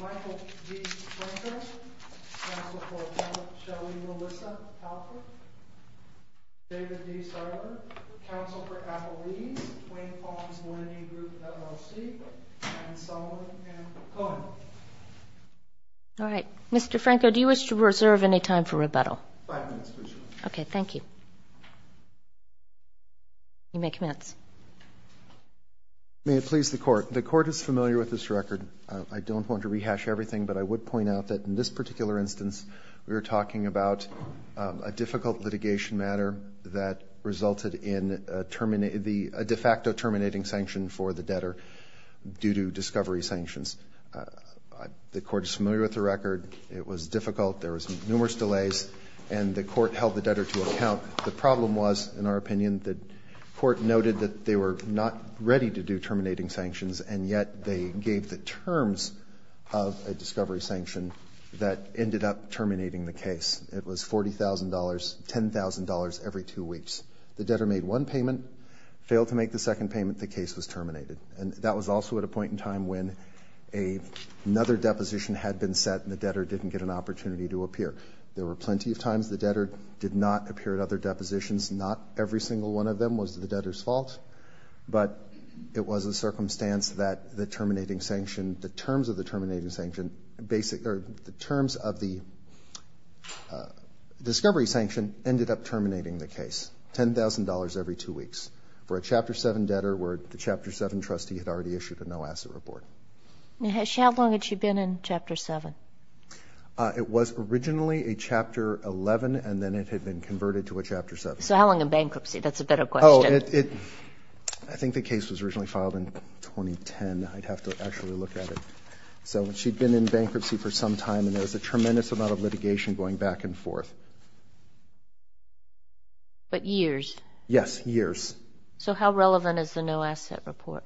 Michael D. Franco, counsel for Shelly Melissa Halper, David D. Sardar, counsel for Apolline, Wayne Farms Linity Group LLC, and Solomon M. Cohen. All right. Mr. Franco, do you wish to reserve any time for rebuttal? Five minutes, please. Okay, thank you. You may commence. May it please the Court. The Court is familiar with this record. I don't want to rehash everything, but I would point out that in this particular instance, we were talking about a difficult litigation matter that resulted in a de facto terminating sanction for the debtor due to discovery sanctions. The Court is familiar with the record. It was difficult. There was numerous delays, and the Court held the debtor to account. The problem was, in our opinion, the Court noted that they were not ready to do terminating sanctions, and yet they gave the terms of a discovery sanction that ended up terminating the case. It was $40,000, $10,000 every two weeks. The debtor made one payment, failed to make the second payment, the case was terminated. And that was also at a point in time when another deposition had been set, and the debtor didn't get an opportunity to appear. There were plenty of times the debtor did not appear at other depositions. Not every single one of them was the debtor's fault, but it was a circumstance that the terms of the discovery sanction ended up terminating the case. $10,000 every two weeks for a Chapter 7 debtor where the Chapter 7 trustee had already issued a no-asset report. How long had she been in Chapter 7? It was originally a Chapter 11, and then it had been converted to a Chapter 7. So how long in bankruptcy? That's a better question. I think the case was originally filed in 2010. I'd have to actually look at it. So she'd been in bankruptcy for some time, and there was a tremendous amount of litigation going back and forth. But years? Yes, years. So how relevant is the no-asset report?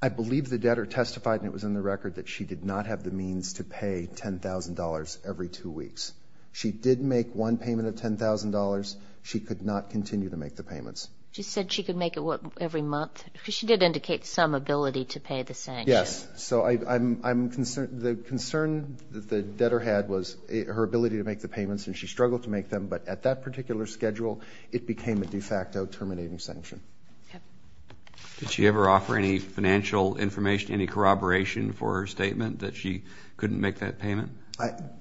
I believe the debtor testified, and it was in the record, that she did not have the means to pay $10,000 every two weeks. She did make one payment of $10,000. She could not continue to make the payments. She said she could make it, what, every month? Because she did indicate some ability to pay the sanction. Yes. So the concern the debtor had was her ability to make the payments, and she struggled to make them. But at that particular schedule, it became a de facto terminating sanction. Yep. Did she ever offer any financial information, any corroboration for her statement that she couldn't make that payment?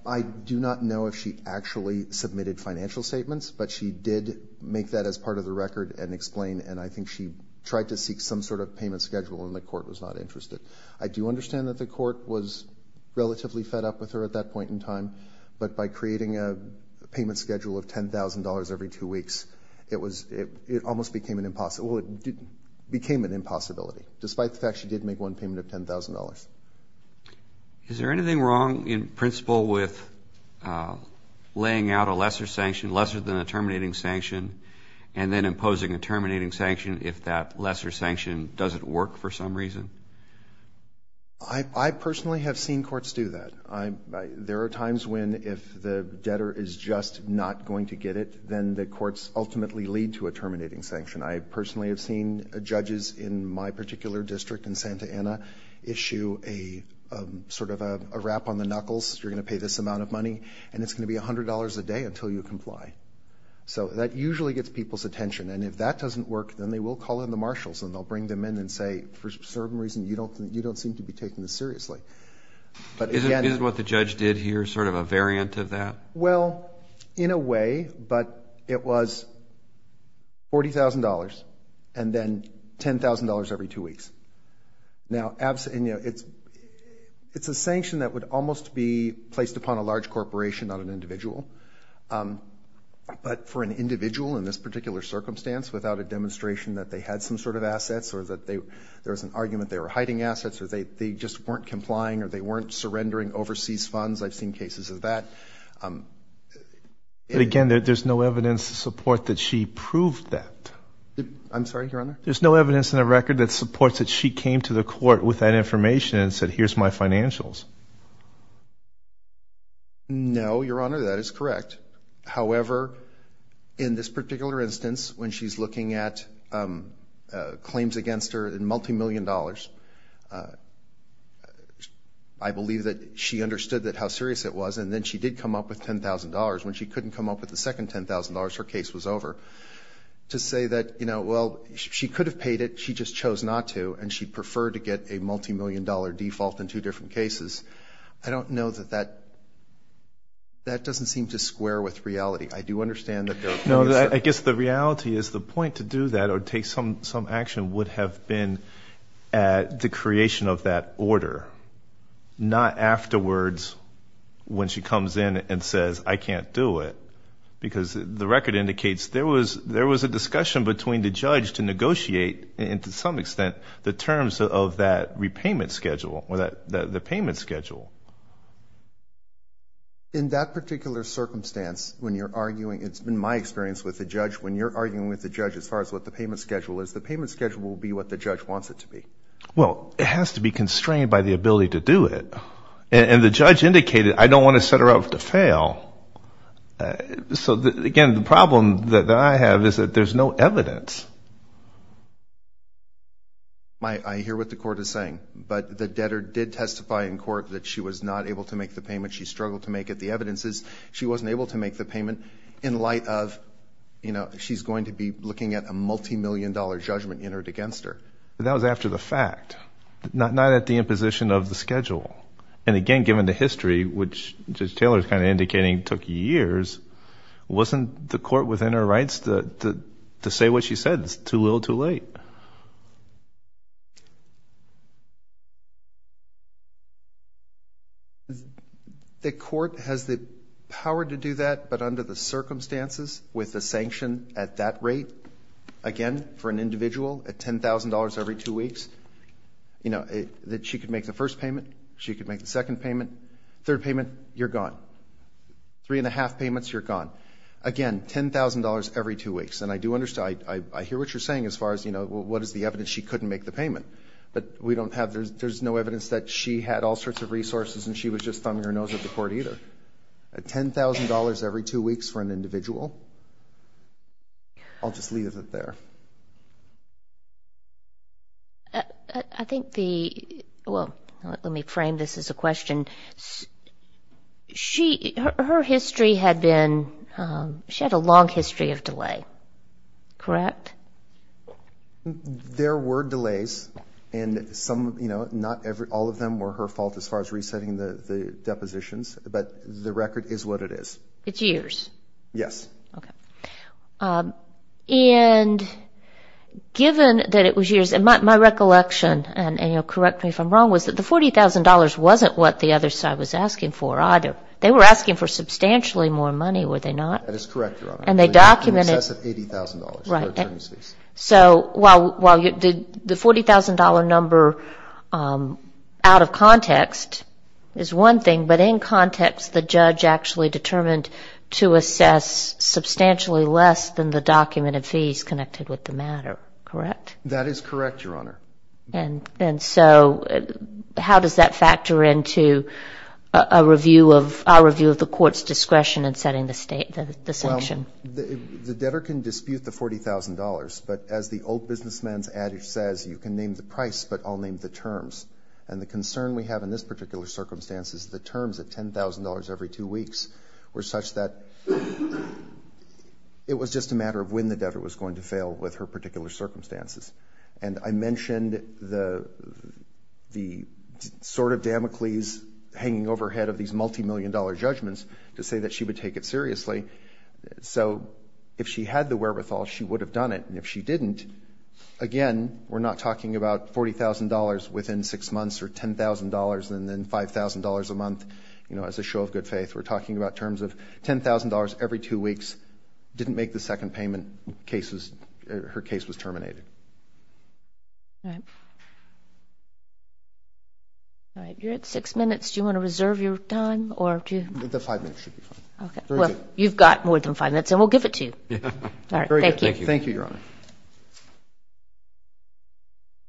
I do not know if she actually submitted financial statements, but she did make that as part of the record and explain, and I think she tried to seek some sort of payment schedule, and the court was not interested. I do understand that the court was relatively fed up with her at that point in time, but by creating a payment schedule of $10,000 every two weeks, it almost became an impossibility. Well, it became an impossibility, despite the fact she did make one payment of $10,000. Is there anything wrong in principle with laying out a lesser sanction, lesser than a terminating sanction, and then imposing a terminating sanction if that lesser sanction doesn't work for some reason? I personally have seen courts do that. There are times when if the debtor is just not going to get it, then the courts ultimately lead to a terminating sanction. I personally have seen judges in my particular district in Santa Ana issue a sort of a rap on the knuckles. You're going to pay this amount of money, and it's going to be $100 a day until you comply. So that usually gets people's attention, and if that doesn't work, then they will call in the marshals, and they'll bring them in and say, for some reason, you don't seem to be taking this seriously. Isn't what the judge did here sort of a variant of that? Well, in a way, but it was $40,000 and then $10,000 every two weeks. Now, it's a sanction that would almost be placed upon a large corporation, not an individual. But for an individual in this particular circumstance, without a demonstration that they had some sort of assets or that there was an argument they were hiding assets or they just weren't complying or they weren't surrendering overseas funds, I've seen cases of that. But again, there's no evidence to support that she proved that. I'm sorry, Your Honor? There's no evidence in the record that supports that she came to the court with that information and said, here's my financials. No, Your Honor, that is correct. However, in this particular instance, when she's looking at claims against her in multimillion dollars, I believe that she understood how serious it was, and then she did come up with $10,000. When she couldn't come up with the second $10,000, her case was over. To say that, you know, well, she could have paid it, she just chose not to, and she preferred to get a multimillion dollar default in two different cases, I don't know that that doesn't seem to square with reality. I do understand that there are cases. No, I guess the reality is the point to do that or take some action would have been at the creation of that order, not afterwards when she comes in and says, I can't do it, because the record indicates there was a discussion between the judge to negotiate, and to some extent, the terms of that repayment schedule or the payment schedule. In that particular circumstance, when you're arguing, in my experience with the judge, when you're arguing with the judge as far as what the payment schedule is, the payment schedule will be what the judge wants it to be. Well, it has to be constrained by the ability to do it. And the judge indicated, I don't want to set her up to fail. So, again, the problem that I have is that there's no evidence. I hear what the court is saying, but the debtor did testify in court that she was not able to make the payment, she struggled to make it. The evidence is she wasn't able to make the payment in light of, you know, she's going to be looking at a multimillion dollar judgment entered against her. That was after the fact, not at the imposition of the schedule. And, again, given the history, which Judge Taylor is kind of indicating took years, wasn't the court within her rights to say what she said? It's too little, too late. The court has the power to do that, but under the circumstances with the sanction at that rate, again, for an individual at $10,000 every two weeks, you know, that she could make the first payment, she could make the second payment, third payment, you're gone. Three and a half payments, you're gone. Again, $10,000 every two weeks. And I do understand, I hear what you're saying as far as, you know, what is the evidence she couldn't make the payment. But we don't have, there's no evidence that she had all sorts of resources and she was just thumbing her nose at the court either. $10,000 every two weeks for an individual? I'll just leave it there. I think the, well, let me frame this as a question. Her history had been, she had a long history of delay, correct? There were delays and some, you know, not all of them were her fault as far as resetting the depositions, but the record is what it is. It's years? Yes. Okay. And given that it was years, and my recollection, and you'll correct me if I'm wrong, was that the $40,000 wasn't what the other side was asking for either. They were asking for substantially more money, were they not? That is correct, Your Honor. And they documented. In excess of $80,000. Right. So while the $40,000 number out of context is one thing, but in context the judge actually determined to assess substantially less than the documented fees connected with the matter, correct? That is correct, Your Honor. And so how does that factor into a review of, our review of the court's discretion in setting the state, the sanction? Well, the debtor can dispute the $40,000, but as the old businessman's adage says, you can name the price, but I'll name the terms. And the concern we have in this particular circumstance is the terms of $10,000 every two weeks were such that it was just a matter of when the debtor was going to fail with her particular circumstances. And I mentioned the sort of Damocles hanging overhead of these multimillion-dollar judgments to say that she would take it seriously. So if she had the wherewithal, she would have done it. And if she didn't, again, we're not talking about $40,000 within six months or $10,000 and then $5,000 a month, you know, as a show of good faith. We're talking about terms of $10,000 every two weeks, didn't make the second payment, her case was terminated. All right. You're at six minutes. Do you want to reserve your time? The five minutes should be fine. Well, you've got more than five minutes, and we'll give it to you. All right. Very good. Thank you. Thank you, Your Honor.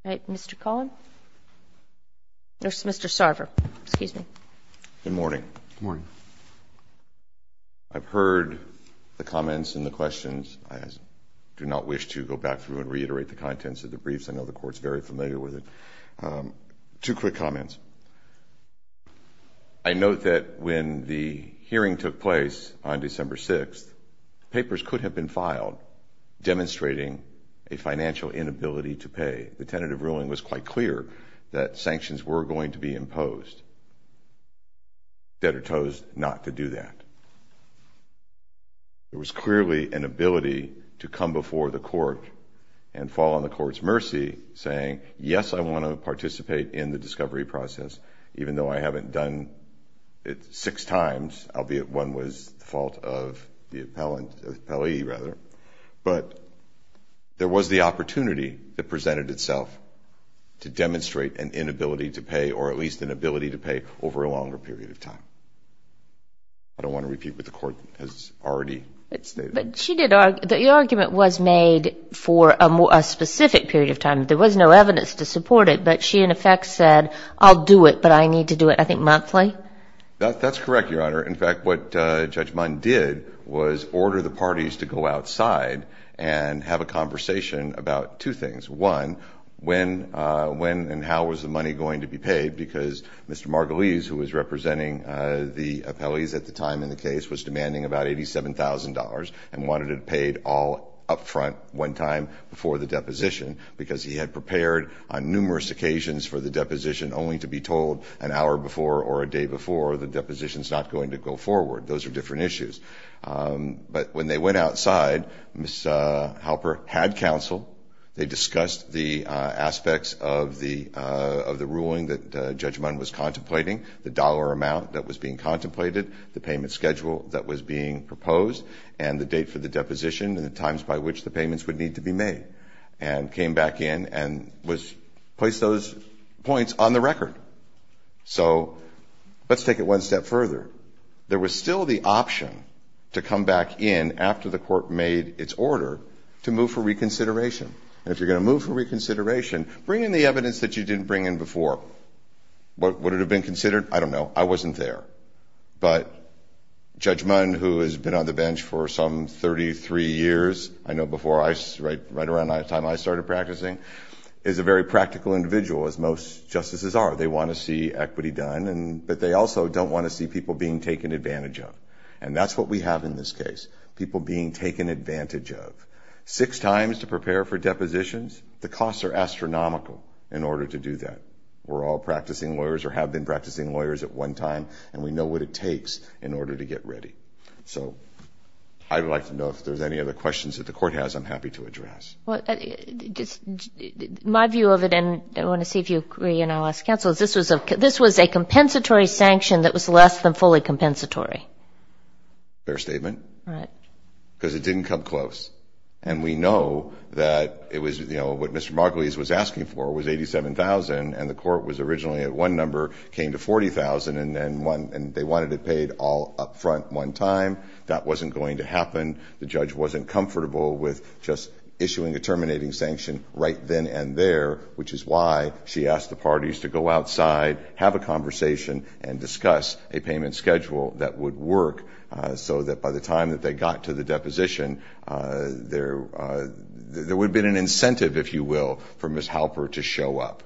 All right. Mr. Cullen? Or Mr. Sarver. Excuse me. Good morning. Good morning. I've heard the comments and the questions. I do not wish to go back through and reiterate the contents of the briefs. I know the Court's very familiar with it. Two quick comments. I note that when the hearing took place on December 6th, papers could have been filed demonstrating a financial inability to pay. The tentative ruling was quite clear that sanctions were going to be imposed. Debtor chose not to do that. There was clearly an ability to come before the Court and fall on the Court's mercy, saying, yes, I want to participate in the discovery process, even though I haven't done it six times, albeit one was the fault of the appellee. But there was the opportunity that presented itself to demonstrate an inability to pay or at least an ability to pay over a longer period of time. I don't want to repeat what the Court has already stated. But the argument was made for a specific period of time. There was no evidence to support it. But she, in effect, said, I'll do it, but I need to do it, I think, monthly? That's correct, Your Honor. In fact, what Judge Mund did was order the parties to go outside and have a conversation about two things. One, when and how was the money going to be paid, because Mr. Margulies, who was representing the appellees at the time in the case, was demanding about $87,000 and wanted it paid all up front one time before the deposition because he had prepared on numerous occasions for the deposition only to be told an hour before or a day before the deposition is not going to go forward. Those are different issues. But when they went outside, Ms. Halper had counsel. They discussed the aspects of the ruling that Judge Mund was contemplating, the dollar amount that was being contemplated, the payment schedule that was being proposed, and the date for the deposition and the times by which the payments would need to be made, and came back in and placed those points on the record. So let's take it one step further. There was still the option to come back in after the court made its order to move for reconsideration. And if you're going to move for reconsideration, bring in the evidence that you didn't bring in before. Would it have been considered? I don't know. I wasn't there. But Judge Mund, who has been on the bench for some 33 years, I know right around the time I started practicing, is a very practical individual, as most justices are. They want to see equity done, but they also don't want to see people being taken advantage of. And that's what we have in this case, people being taken advantage of. Six times to prepare for depositions, the costs are astronomical in order to do that. We're all practicing lawyers or have been practicing lawyers at one time, and we know what it takes in order to get ready. So I'd like to know if there's any other questions that the court has I'm happy to address. My view of it, and I want to see if you agree and I'll ask counsel, is this was a compensatory sanction that was less than fully compensatory. Fair statement. Because it didn't come close. And we know that it was, you know, what Mr. Margulies was asking for was $87,000, and the court was originally at one number, came to $40,000, and they wanted it paid all up front one time. That wasn't going to happen. The judge wasn't comfortable with just issuing a terminating sanction right then and there, which is why she asked the parties to go outside, have a conversation, and discuss a payment schedule that would work so that by the time that they got to the deposition, there would have been an incentive, if you will, for Ms. Halper to show up,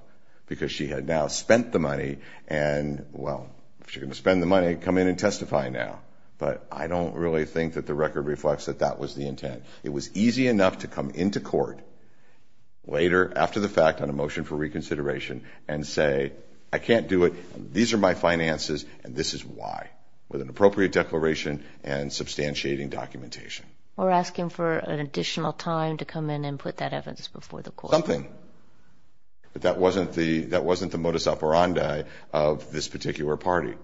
because she had now spent the money and, well, if she's going to spend the money, come in and testify now. But I don't really think that the record reflects that that was the intent. It was easy enough to come into court later after the fact on a motion for reconsideration and say, okay, I can't do it, these are my finances, and this is why, with an appropriate declaration and substantiating documentation. We're asking for an additional time to come in and put that evidence before the court. Something. But that wasn't the modus operandi of this particular party.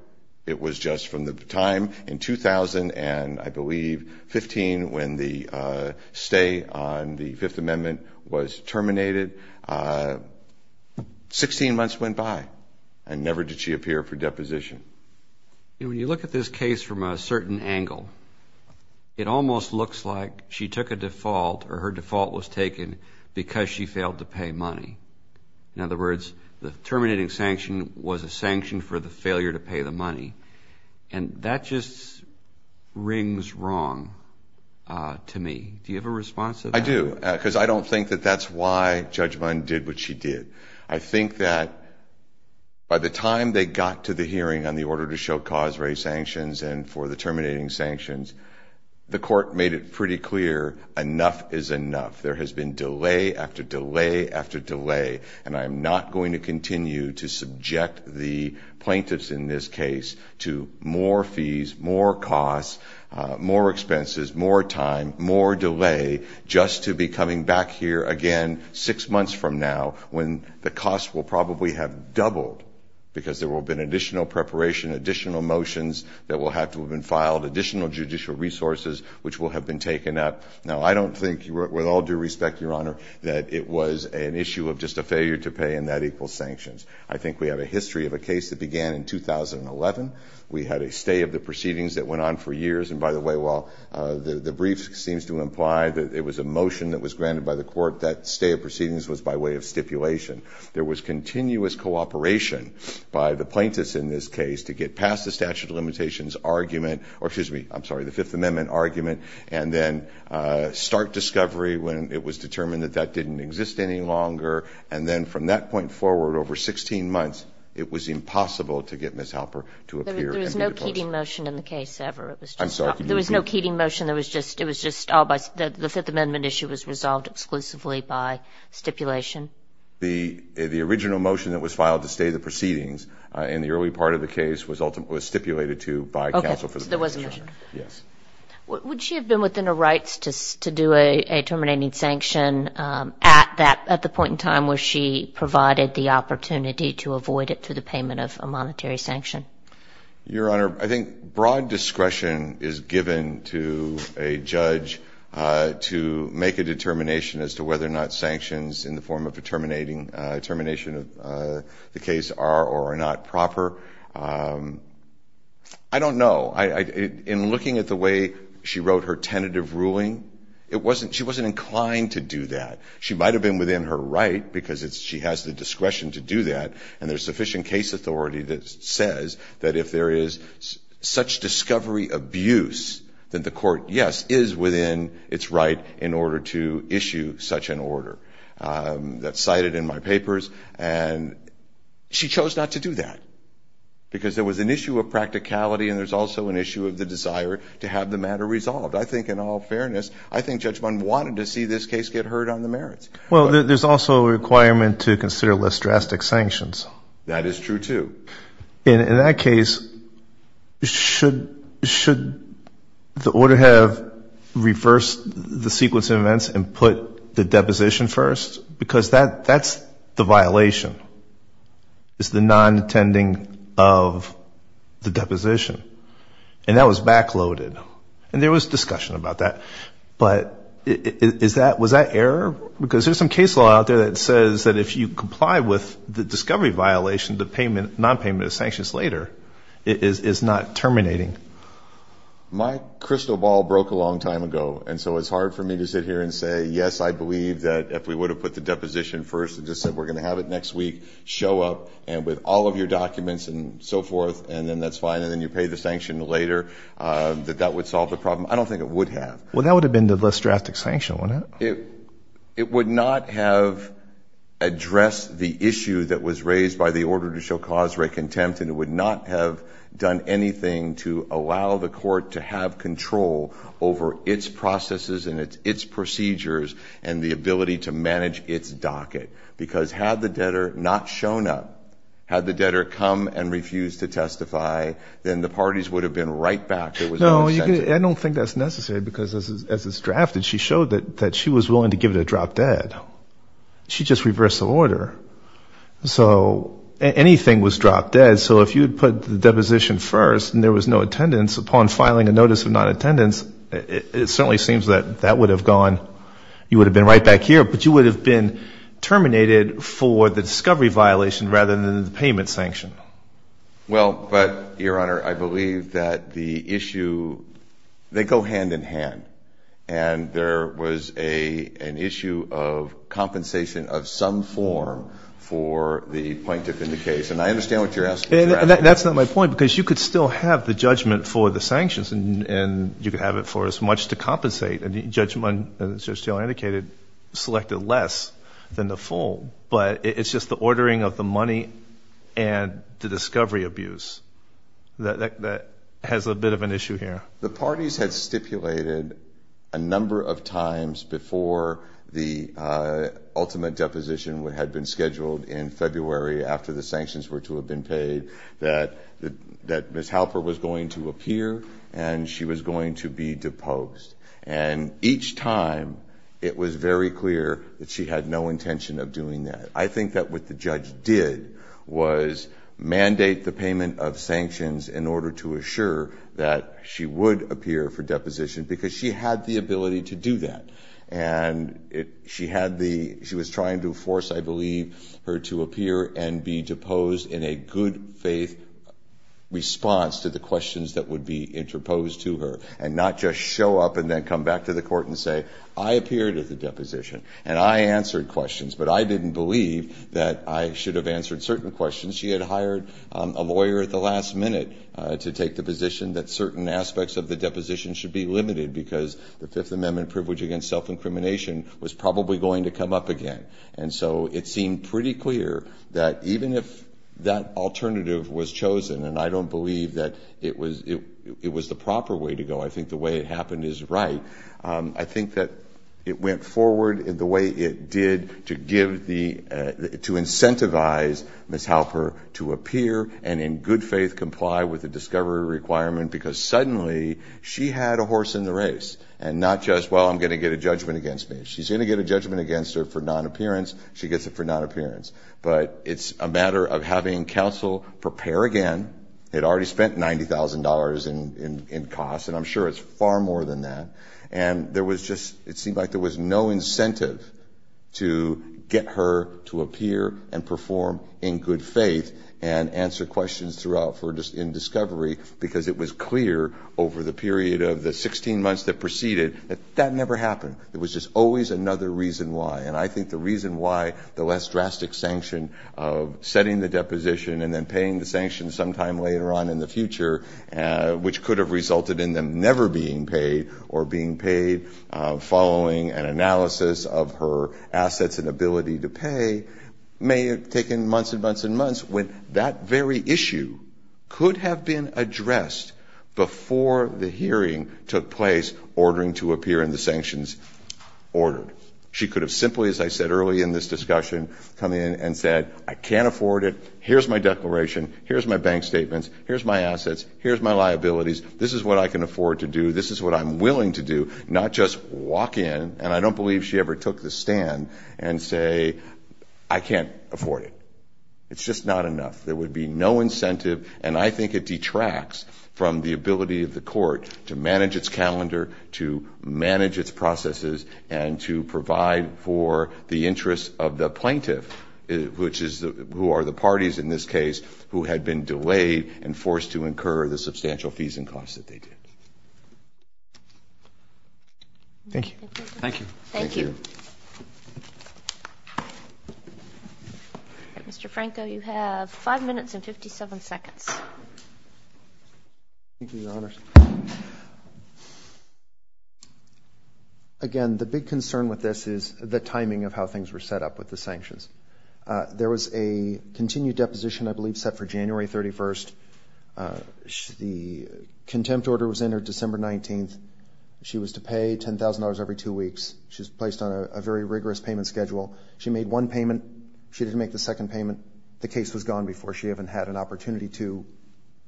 It was just from the time in 2000 and, I believe, 15, when the stay on the Fifth Amendment was terminated, 16 months went by and never did she appear for deposition. When you look at this case from a certain angle, it almost looks like she took a default or her default was taken because she failed to pay money. In other words, the terminating sanction was a sanction for the failure to pay the money. And that just rings wrong to me. Do you have a response to that? I do. Because I don't think that that's why Judge Mund did what she did. I think that by the time they got to the hearing on the order to show cause-based sanctions and for the terminating sanctions, the court made it pretty clear enough is enough. There has been delay after delay after delay, and I'm not going to continue to subject the plaintiffs in this case to more fees, more costs, more expenses, more time, more delay, just to be coming back here again six months from now when the costs will probably have doubled because there will have been additional preparation, additional motions that will have to have been filed, additional judicial resources which will have been taken up. Now, I don't think, with all due respect, Your Honor, that it was an issue of just a failure to pay and that equals sanctions. I think we have a history of a case that began in 2011. We had a stay of the proceedings that went on for years. And, by the way, while the brief seems to imply that it was a motion that was granted by the court, that stay of proceedings was by way of stipulation. There was continuous cooperation by the plaintiffs in this case to get past the statute of limitations argument or, excuse me, I'm sorry, the Fifth Amendment argument, and then start discovery when it was determined that that didn't exist any longer. And then from that point forward, over 16 months, it was impossible to get Ms. Halper to appear. There was no Keating motion in the case ever. I'm sorry, could you repeat that? There was no Keating motion. It was just all by the Fifth Amendment issue was resolved exclusively by stipulation. The original motion that was filed to stay the proceedings in the early part of the case was stipulated to by counsel. Okay, so there wasn't a motion. Yes. Would she have been within her rights to do a terminating sanction at the point in time where she provided the opportunity to avoid it through the payment of a monetary sanction? Your Honor, I think broad discretion is given to a judge to make a determination as to whether or not sanctions in the form of a terminating, termination of the case are or are not proper. I don't know. In looking at the way she wrote her tentative ruling, it wasn't, she wasn't inclined to do that. She might have been within her right because she has the discretion to do that, and there's sufficient case authority that says that if there is such discovery abuse, that the court, yes, is within its right in order to issue such an order. That's cited in my papers, and she chose not to do that because there was an issue of practicality and there's also an issue of the desire to have the matter resolved. I think in all fairness, I think Judge Bunn wanted to see this case get heard on the merits. Well, there's also a requirement to consider less drastic sanctions. That is true, too. In that case, should the order have reversed the sequence of events and put the deposition first? Because that's the violation, is the non-attending of the deposition. And that was backloaded. And there was discussion about that. But was that error? Because there's some case law out there that says that if you comply with the discovery violation, the non-payment of sanctions later is not terminating. My crystal ball broke a long time ago, and so it's hard for me to sit here and say, yes, I believe that if we would have put the deposition first and just said we're going to have it next week, show up, and with all of your documents and so forth, and then that's fine, and then you pay the sanction later, that that would solve the problem. I don't think it would have. Well, that would have been the less drastic sanction, wouldn't it? It would not have addressed the issue that was raised by the order to show cause for a contempt, and it would not have done anything to allow the court to have control over its processes and its procedures and the ability to manage its docket. Because had the debtor not shown up, had the debtor come and refused to testify, then the parties would have been right back. No, I don't think that's necessary because as it's drafted, she showed that she was willing to give it a drop dead. She just reversed the order. So anything was drop dead. So if you had put the deposition first and there was no attendance, upon filing a notice of non-attendance, it certainly seems that that would have gone, you would have been right back here, but you would have been terminated for the discovery violation rather than the payment sanction. Well, but, Your Honor, I believe that the issue, they go hand in hand, and there was an issue of compensation of some form for the plaintiff in the case. And I understand what you're asking. That's not my point because you could still have the judgment for the sanctions and you could have it for as much to compensate. And the judgment, as Judge Taylor indicated, selected less than the full, but it's just the ordering of the money and the discovery abuse that has a bit of an issue here. The parties had stipulated a number of times before the ultimate deposition had been scheduled in February after the sanctions were to have been paid that Ms. Halper was going to appear and she was going to be deposed. And each time it was very clear that she had no intention of doing that. I think that what the judge did was mandate the payment of sanctions in order to assure that she would appear for deposition because she had the ability to do that. And she had the, she was trying to force, I believe, her to appear and be deposed in a good faith response to the questions that would be interposed to her and not just show up and then come back to the court and say, I appeared at the deposition and I answered questions, but I didn't believe that I should have answered certain questions. She had hired a lawyer at the last minute to take the position that certain aspects of the deposition should be limited because the Fifth Amendment privilege against self-incrimination was probably going to come up again. And so it seemed pretty clear that even if that alternative was chosen, and I don't believe that it was the proper way to go, I think the way it happened is right, I think that it went forward the way it did to give the, to incentivize Ms. Halper to appear and in good faith comply with the discovery requirement because suddenly she had a horse in the race and not just, well, I'm going to get a judgment against me. If she's going to get a judgment against her for non-appearance, she gets it for non-appearance. But it's a matter of having counsel prepare again. It already spent $90,000 in costs, and I'm sure it's far more than that. And there was just, it seemed like there was no incentive to get her to appear and perform in good faith and answer questions throughout in discovery because it was clear over the period of the 16 months that preceded that that never happened. There was just always another reason why. And I think the reason why the less drastic sanction of setting the deposition and then paying the sanctions sometime later on in the future, which could have resulted in them never being paid or being paid following an analysis of her assets and ability to pay, may have taken months and months and months when that very issue could have been addressed before the hearing took place ordering to appear in the sanctions order. She could have simply, as I said early in this discussion, come in and said, I can't afford it. Here's my declaration. Here's my bank statements. Here's my assets. Here's my liabilities. This is what I can afford to do. This is what I'm willing to do, not just walk in, and I don't believe she ever took the stand, and say, I can't afford it. It's just not enough. There would be no incentive, and I think it detracts from the ability of the court to manage its calendar, to manage its processes, and to provide for the interests of the plaintiff, who are the parties in this case who had been delayed and forced to incur the substantial fees and costs that they did. Thank you. Thank you. Thank you. Mr. Franco, you have five minutes and 57 seconds. Thank you, Your Honors. Again, the big concern with this is the timing of how things were set up with the sanctions. There was a continued deposition, I believe, set for January 31st. The contempt order was entered December 19th. She was to pay $10,000 every two weeks. She was placed on a very rigorous payment schedule. She made one payment. She didn't make the second payment. The case was gone before she even had an opportunity to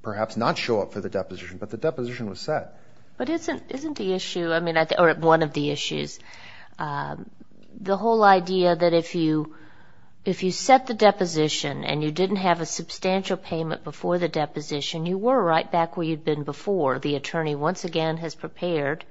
perhaps not show up for the deposition, but the deposition was set. But isn't the issue, or one of the issues, the whole idea that if you set the deposition and you didn't have a substantial payment before the deposition, you were right back where you'd been before. The attorney once again has prepared,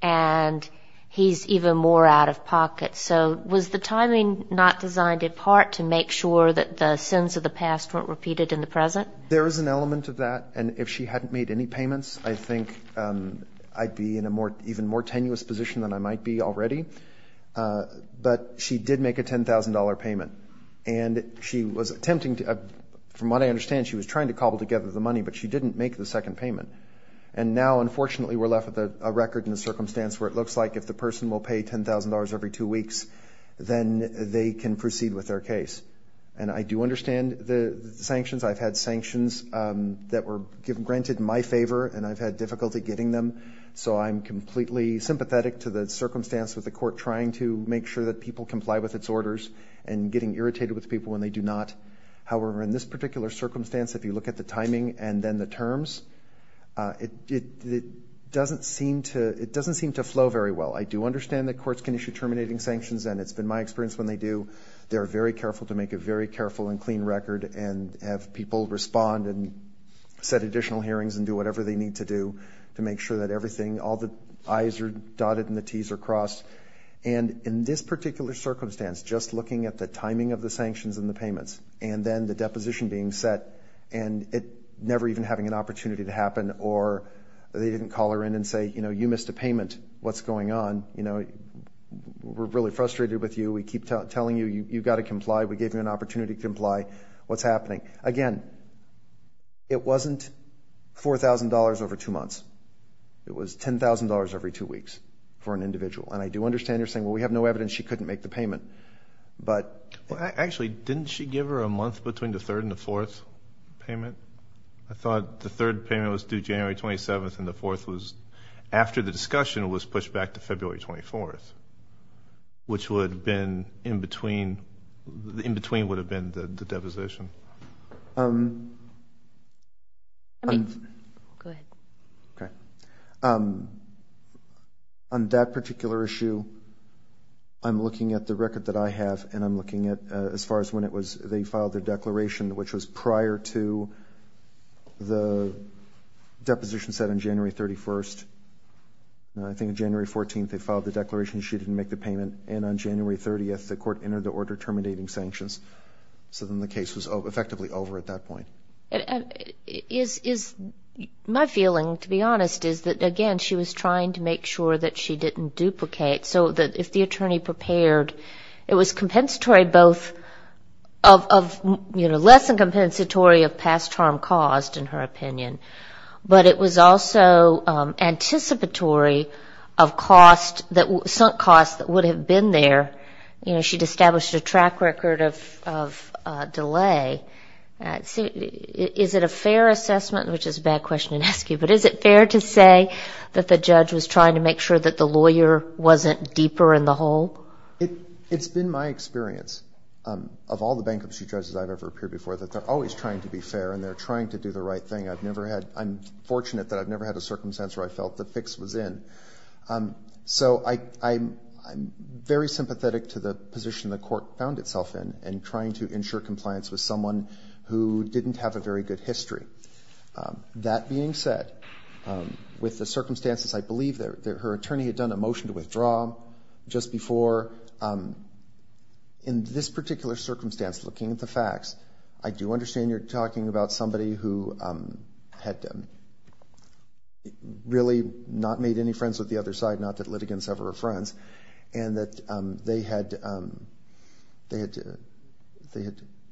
and he's even more out of pocket. So was the timing not designed in part to make sure that the sins of the past weren't repeated in the present? There is an element of that, and if she hadn't made any payments, I think I'd be in an even more tenuous position than I might be already. But she did make a $10,000 payment, and she was attempting to, from what I understand, she was trying to cobble together the money, but she didn't make the second payment. And now, unfortunately, we're left with a record in the circumstance where it looks like if the person will pay $10,000 every two weeks, then they can proceed with their case. And I do understand the sanctions. I've had sanctions that were granted in my favor, and I've had difficulty getting them. So I'm completely sympathetic to the circumstance with the court trying to make sure that people comply with its orders and getting irritated with people when they do not. However, in this particular circumstance, if you look at the timing and then the terms, it doesn't seem to flow very well. I do understand that courts can issue terminating sanctions, and it's been my experience when they do. They are very careful to make a very careful and clean record and have people respond and set additional hearings and do whatever they need to do to make sure that everything, all the I's are dotted and the T's are crossed. And in this particular circumstance, just looking at the timing of the sanctions and the payments and then the deposition being set and it never even having an opportunity to happen or they didn't call her in and say, you know, you missed a payment. What's going on? You know, we're really frustrated with you. We keep telling you you've got to comply. We gave you an opportunity to comply. What's happening? Again, it wasn't $4,000 over two months. It was $10,000 every two weeks for an individual. And I do understand her saying, well, we have no evidence she couldn't make the payment. Actually, didn't she give her a month between the third and the fourth payment? I thought the third payment was due January 27th and the fourth was after the discussion was pushed back to February 24th, which would have been in between the deposition. On that particular issue, I'm looking at the record that I have and I'm looking at as far as when they filed their declaration, which was prior to the deposition set on January 31st. I think January 14th they filed the declaration she didn't make the payment and on January 30th the court entered the order terminating sanctions. So then the case was effectively over at that point. My feeling, to be honest, is that, again, she was trying to make sure that she didn't duplicate so that if the attorney prepared, it was less than compensatory of past harm caused, in her opinion, but it was also anticipatory of sunk costs that would have been there. She had established a track record of delay. Is it a fair assessment, which is a bad question to ask you, but is it fair to say that the judge was trying to make sure that the lawyer wasn't deeper in the hole? It's been my experience of all the bankruptcy judges I've ever appeared before that they're always trying to be fair and they're trying to do the right thing. I'm fortunate that I've never had a circumstance where I felt the fix was in. So I'm very sympathetic to the position the court found itself in in trying to ensure compliance with someone who didn't have a very good history. That being said, with the circumstances, I believe her attorney had done a motion to withdraw just before. In this particular circumstance, looking at the facts, I do understand you're talking about somebody who had really not made any friends with the other side, not that litigants ever were friends, and that they had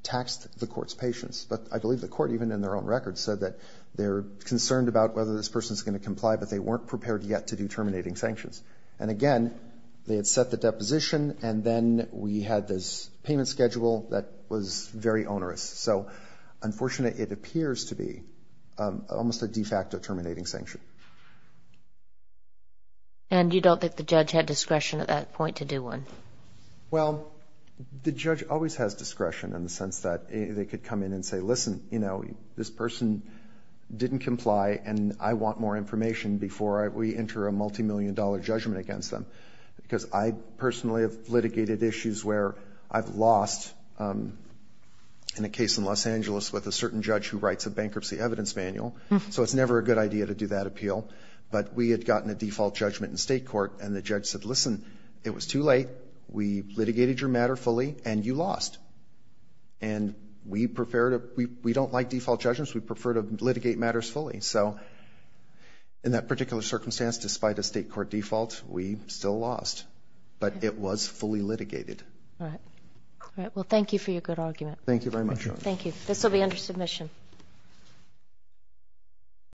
taxed the court's patience. But I believe the court, even in their own records, said that they're concerned about whether this person's going to comply, but they weren't prepared yet to do terminating sanctions. And again, they had set the deposition, and then we had this payment schedule that was very onerous. So unfortunately, it appears to be almost a de facto terminating sanction. And you don't think the judge had discretion at that point to do one? Well, the judge always has discretion in the sense that they could come in and say, listen, this person didn't comply, and I want more information before we enter a multimillion dollar judgment against them. Because I personally have litigated issues where I've lost in a case in Los Angeles with a certain judge who writes a bankruptcy evidence manual. So it's never a good idea to do that appeal. But we had gotten a default judgment in state court, and the judge said, listen, it was too late. We litigated your matter fully, and you lost. And we don't like default judgments. We prefer to litigate matters fully. So in that particular circumstance, despite a state court default, we still lost. But it was fully litigated. All right. Well, thank you for your good argument. Thank you very much. Thank you. This will be under submission.